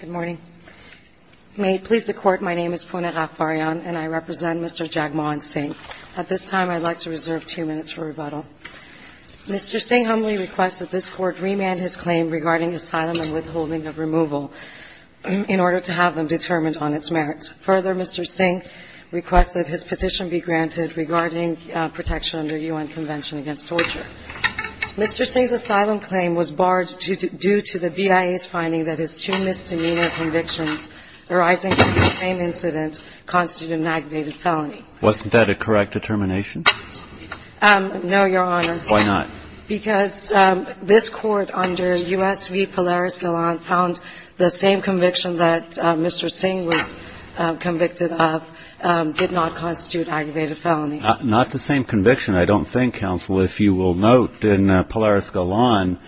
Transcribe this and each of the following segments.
Good morning. May it please the Court, my name is Pune Raffarian and I represent Mr. Jagmohan Singh. At this time, I'd like to reserve two minutes for rebuttal. Mr. Singh humbly requests that this Court remand his claim regarding asylum and withholding of removal in order to have them determined on its merits. Further, Mr. Singh requests that his petition be granted regarding protection under UN Convention against Torture. Mr. Singh's finding that his two misdemeanor convictions arising from the same incident constituted an aggravated felony. Mr. Singh Wasn't that a correct determination? Ms. Raffarian No, Your Honor. Mr. Singh Why not? Ms. Raffarian Because this Court under U.S. v. Polaris-Galan found the same conviction that Mr. Singh was convicted of did not constitute aggravated felony. Mr. Singh Not the same conviction. I don't think, Counsel, if you will note, in Polaris-Galan,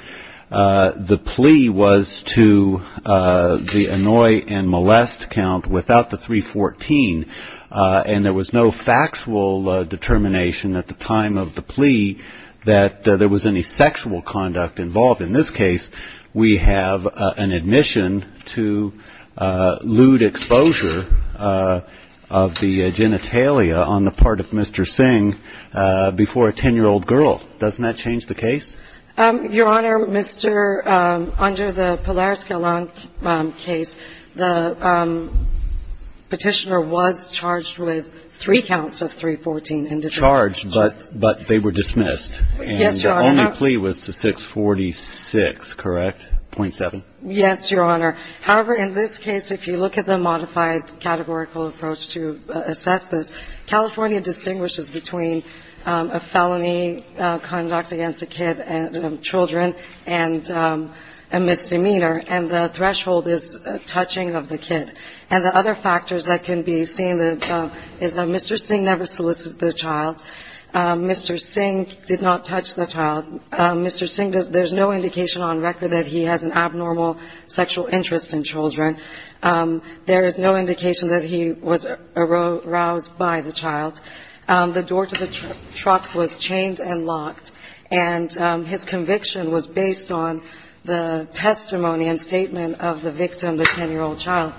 the plea was to the annoy and molest count without the 314 and there was no factual determination at the time of the plea that there was any sexual conduct involved. In this case, we have an admission to lewd exposure of the genitalia on the part of Mr. Singh before a 10-year-old girl. Doesn't that change the case? Ms. Raffarian Your Honor, Mr. Under the Polaris-Galan case, the Petitioner was charged with three counts of 314 and dismissed. Mr. Singh Charged, but they were dismissed. Ms. Raffarian Yes, Your Honor. Mr. Singh And the only plea was to 646, correct? 0.7? Ms. Raffarian Yes, Your Honor. However, in this case, if you look at the modified categorical approach to assess this, California distinguishes between a felony conduct against a kid and children and a misdemeanor, and the threshold is touching of the kid. And the other factors that can be seen is that Mr. Singh never solicited the child. Mr. Singh did not touch the child. Mr. Singh, there's no indication on record that he has an abnormal sexual interest in children. There is no indication that he was aroused by the child. And his conviction was based on the testimony and statement of the victim, the 10-year-old child.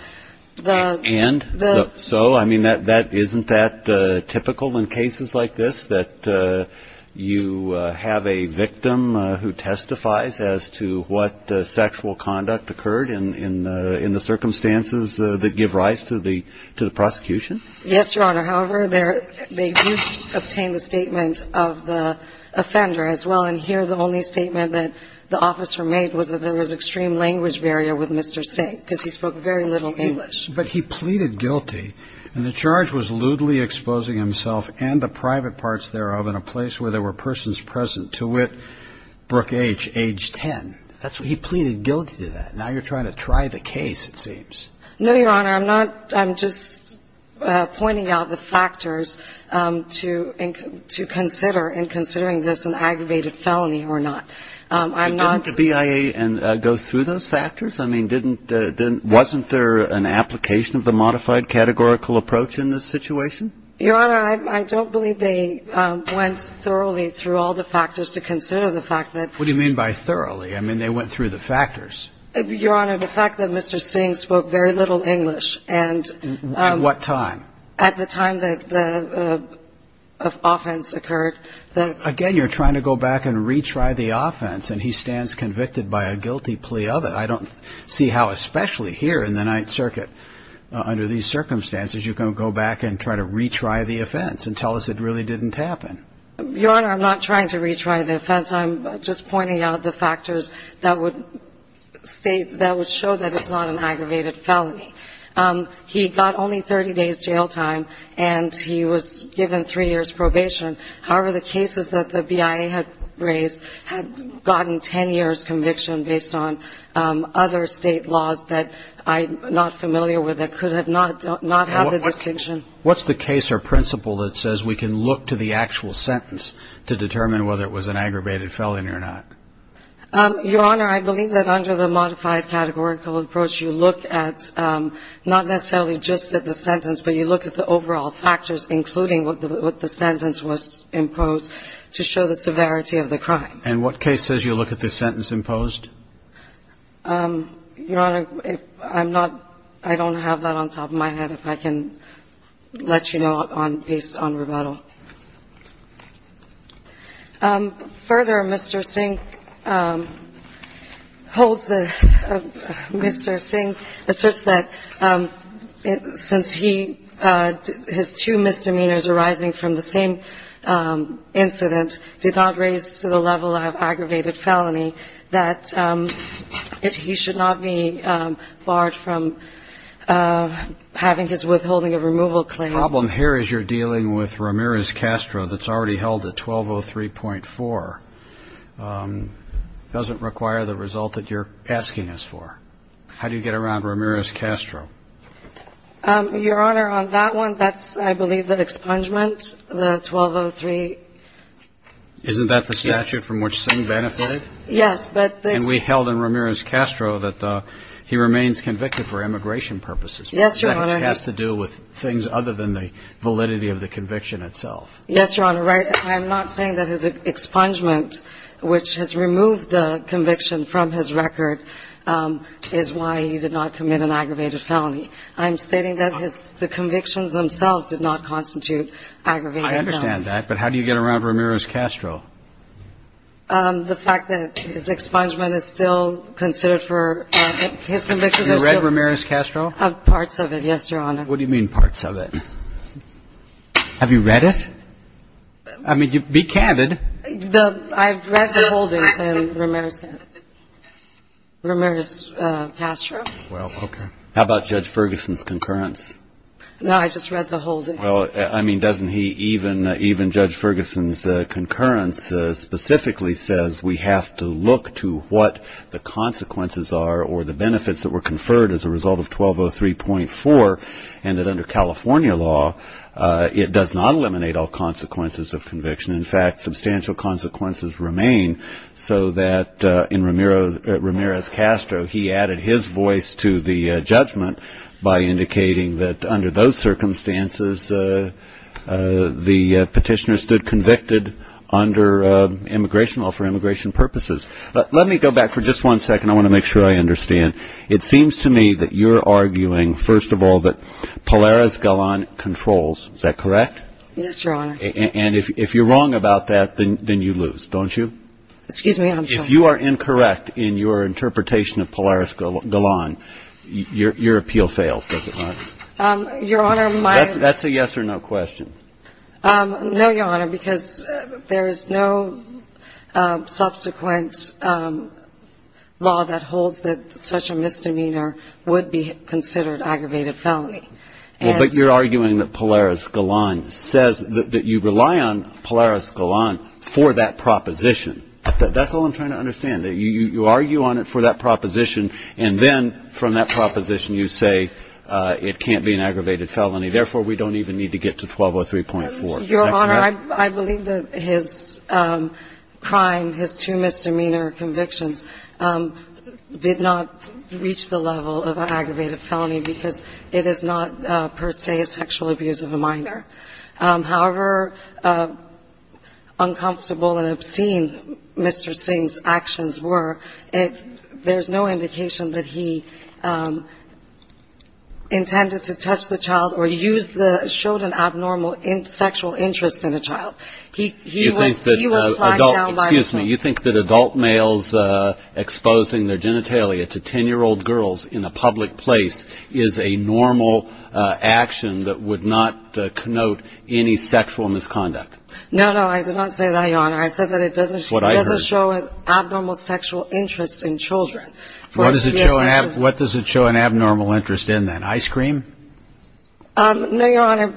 Mr. Singh And so, I mean, isn't that typical in cases like this, that you have a victim who testifies as to what sexual conduct occurred in the circumstances that give rise to the Ms. Raffarian Yes, Your Honor. However, they do obtain the statement of the offender as well. And here, the only statement that the officer made was that there was extreme language barrier with Mr. Singh because he spoke very little English. But he pleaded guilty, and the charge was lewdly exposing himself and the private parts thereof in a place where there were persons present, to wit, Brooke H., age 10. He pleaded guilty to that. Now you're trying to try the case, it seems. Ms. Raffarian No, Your Honor. I'm not. I'm just pointing out the factors to consider in considering this an aggravated felony or not. I'm not. Kennedy Didn't the BIA go through those factors? I mean, wasn't there an application of the modified categorical approach in this situation? Ms. Raffarian Your Honor, I don't believe they went thoroughly through all the factors to consider the fact that Kennedy What do you mean by thoroughly? I mean, they went through the factors. Ms. Raffarian Your Honor, the fact that Mr. Singh spoke very little English and Kennedy At what time? Ms. Raffarian At the time that the offense occurred. Kennedy Again, you're trying to go back and retry the offense, and he stands convicted by a guilty plea of it. I don't see how, especially here in the Ninth Circuit, under these circumstances, you can go back and try to retry the offense and tell us it really didn't happen. Ms. Raffarian Your Honor, I'm not trying to retry the offense. I'm just pointing out the factors that would state, that would show that it's not an aggravated felony. He got only 30 days jail time, and he was given three years probation. However, the cases that the BIA had raised had gotten 10 years conviction based on other state laws that I'm not familiar with that could not have the distinction. Kennedy What's the case or principle that says we can look to the actual sentence to determine whether it was an aggravated felony or not? Ms. Raffarian Your Honor, I believe that under the modified categorical approach, you look at not necessarily just at the sentence, but you look at the overall factors, including what the sentence was imposed, to show the severity of the crime. Kennedy And what case says you look at the sentence imposed? Ms. Raffarian Your Honor, I'm not – I don't have that on top of my head, if I can let you know, based on rebuttal. Further, Mr. Singh holds the – Mr. Singh asserts that since he – his two misdemeanors arising from the same incident did not raise to the level of aggravated felony, that he should not be barred from having his withholding of removal claim. The problem here is you're dealing with Ramirez-Castro that's already held at 1203.4. It doesn't require the result that you're asking us for. How do you get around Ramirez-Castro? Ms. Raffarian Your Honor, on that one, that's, I believe, the expungement, the 1203. Kennedy Isn't that the statute from which Singh benefited? Ms. Raffarian Yes, but the – Kennedy And we held in Ramirez-Castro that he remains convicted for immigration purposes. Ms. Raffarian Yes, Your Honor. Kennedy Has to do with things other than the validity of the conviction itself. Ms. Raffarian Yes, Your Honor. I'm not saying that his expungement, which has removed the conviction from his record, is why he did not commit an aggravated felony. I'm stating that his – the convictions themselves did not constitute aggravated felony. Kennedy I understand that, but how do you get around Ramirez-Castro? Ms. Raffarian The fact that his expungement is still considered for – his convictions are still – Kennedy Have you read Ramirez-Castro? Ms. Raffarian Parts of it, yes, Your Honor. Kennedy What do you mean, parts of it? Have you read it? I mean, be candid. Ms. Raffarian I've read the holdings in Ramirez-Castro. Kennedy Well, okay. Breyer How about Judge Ferguson's concurrence? Ms. Raffarian No, I just read the holdings. Breyer Well, I mean, doesn't he even – even Judge Ferguson's concurrence specifically says we have to look to what the consequences are or the benefits that were conferred as a result of 1203.4 and that under California law, it does not eliminate all consequences of conviction. In fact, substantial consequences remain so that in Ramirez-Castro, he added his voice to the judgment by indicating that under those circumstances, the petitioner stood convicted under immigration law for immigration purposes. Let me go back for just one second. I want to make sure I understand. It seems to me that you're arguing, first of all, that Polaris Galan controls. Is that correct? Ms. Raffarian Yes, Your Honor. Breyer And if you're wrong about that, then you lose, don't you? Ms. Raffarian Excuse me, I'm sorry. Breyer If you are incorrect in your interpretation of Polaris Galan, your appeal fails, does it not? Ms. Raffarian Your Honor, my – Breyer That's a yes or no question. Ms. Raffarian No, Your Honor, because there is no subsequent law that holds that such a misdemeanor would be considered aggravated felony. And – Breyer Well, but you're arguing that Polaris Galan says – that you rely on Polaris Galan for that proposition. That's all I'm trying to understand, that you argue on it for that proposition, and then from that proposition you say it can't be an aggravated felony, therefore we don't even need to get to 1203.4. Is that correct? Ms. Raffarian Your Honor, I believe that his crime, his two misdemeanor convictions, did not reach the level of an aggravated felony because it is not per se a sexual abuse of a minor. However uncomfortable and obscene Mr. Singh's actions were, there's no indication that he intended to touch the child or use the – showed an abnormal sexual interest in a child. He was flagged down by the police. Breyer You think that adult males exposing their genitalia to 10-year-old girls in a public place is a normal action that would not connote any sexual misconduct? Ms. Raffarian No, no, I did not say that, Your Honor. I said that it doesn't – Breyer What I heard – Ms. Raffarian Abnormal sexual interest in children. Breyer What does it show an abnormal interest in then, ice cream? Ms. Raffarian No, Your Honor,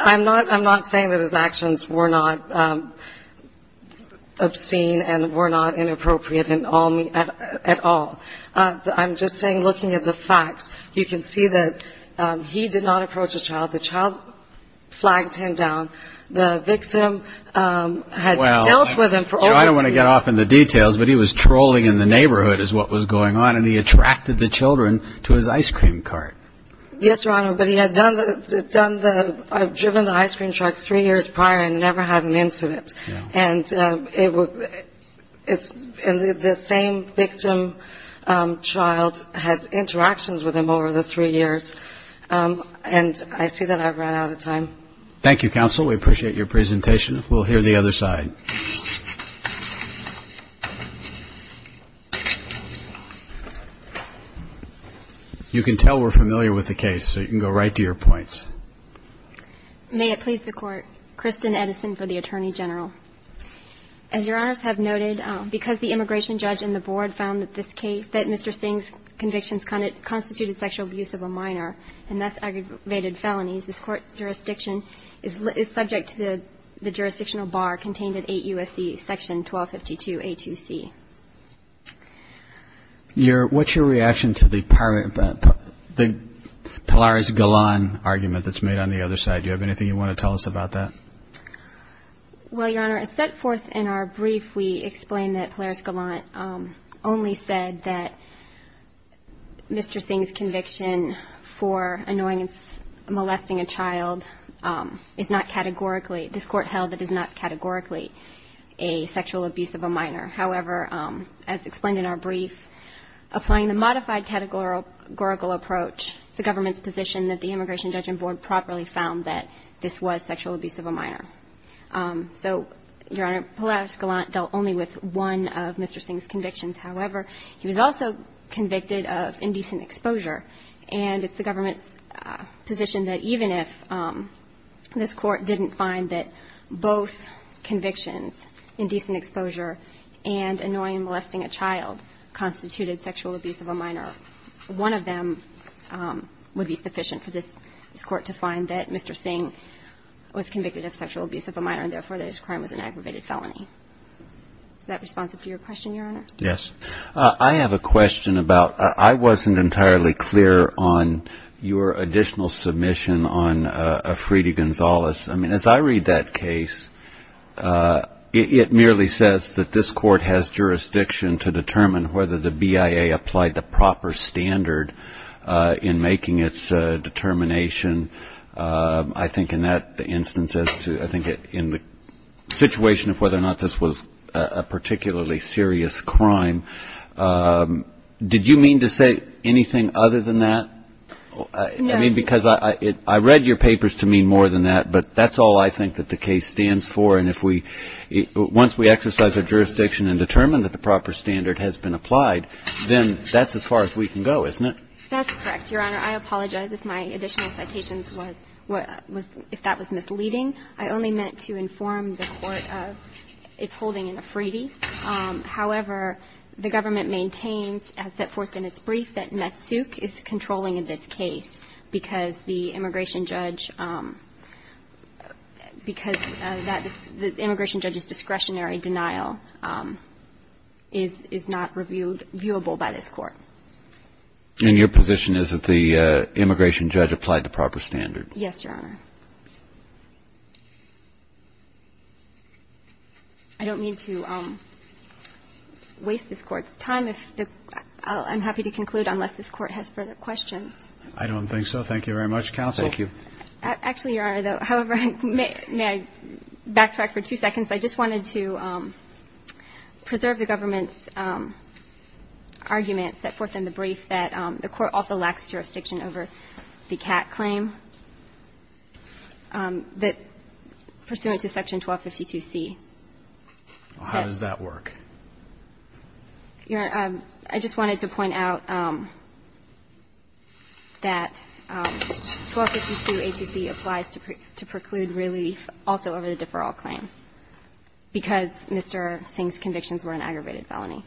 I'm not saying that his actions were not obscene and were not inappropriate at all. I'm just saying looking at the facts, you can see that he did not approach a child. The child flagged him down. The victim had dealt with him for over three years. Breyer Well, I don't want to get off in the details, but he was trolling in the neighborhood is what was going on, and he attracted the children to his ice cream cart. Ms. Raffarian Yes, Your Honor, but he had done the – driven the ice cream truck three years prior and never had an incident. And the same victim child had interactions with him over the three years, and I see that I've run out of time. Breyer Thank you, counsel. We appreciate your presentation. We'll hear the other side. You can tell we're familiar with the case, so you can go right to your points. Ms. Edison May it please the Court, Kristen Edison for the Attorney General. As Your Honors have noted, because the immigration judge in the board found that this case, that Mr. Singh's convictions constituted sexual abuse of a minor and thus aggravated felonies, this Court's jurisdiction is subject to the jurisdictional bar contained in 8 U.S.C. section 1252A2C. Breyer What's your reaction to the Polaris-Gallant argument that's made on the other side? Do you have anything you want to tell us about that? Ms. Edison Well, Your Honor, as set forth in our brief, we explain that Polaris-Gallant only said that Mr. Singh's conviction for molesting a child is not categorically, this Court held it is not categorically a sexual abuse of a minor. However, as explained in our brief, applying the modified categorical approach, the government's position that the immigration judge in board properly found that this was sexual abuse of a minor. So, Your Honor, Polaris-Gallant dealt only with one of Mr. Singh's convictions. However, he was also convicted of indecent exposure. And it's the government's position that even if this Court didn't find that both convictions, indecent exposure and annoying molesting a child, constituted sexual abuse of a minor, one of them would be sufficient for this Court to find that Mr. Singh was convicted of sexual abuse of a minor and, therefore, that his crime was an aggravated felony. Is that responsive to your question, Your Honor? Breyer Yes. I have a question about, I wasn't entirely clear on your additional submission on Afridi Gonzalez. I mean, as I read that case, it merely says that this Court has jurisdiction to determine whether the BIA applied the proper standard in making its determination. I think in that instance as to, I think in the situation of whether or not this was a particularly serious crime, did you mean to say anything other than that? I mean, because I read your papers to mean more than that, but that's all I think that the case stands for. And if we, once we exercise our jurisdiction and determine that the proper standard has been applied, then that's as far as we can go, isn't it? That's correct, Your Honor. I apologize if my additional citations was, if that was misleading. I only meant to inform the Court of its holding in Afridi. However, the government maintains as set forth in its brief that Metsuk is controlling this case because the immigration judge, because the immigration judge's discretionary denial is not reviewable by this Court. And your position is that the immigration judge applied the proper standard? Yes, Your Honor. I don't mean to waste this Court's time. I'm happy to conclude unless this Court has further questions. I don't think so. Thank you very much, counsel. Thank you. Actually, Your Honor, however, may I backtrack for two seconds? I just wanted to preserve the government's argument set forth in the brief that the Court also lacks jurisdiction over the Catt claim that pursuant to Section 1252C. How does that work? Your Honor, I just wanted to point out that 1252A2C applies to preclude relief also over the deferral claim because Mr. Singh's convictions were an aggravated felony.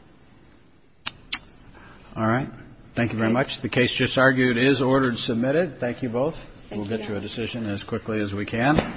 All right. Thank you very much. The case just argued is ordered submitted. Thank you both. Thank you, Your Honor. We'll get you a decision as quickly as we can.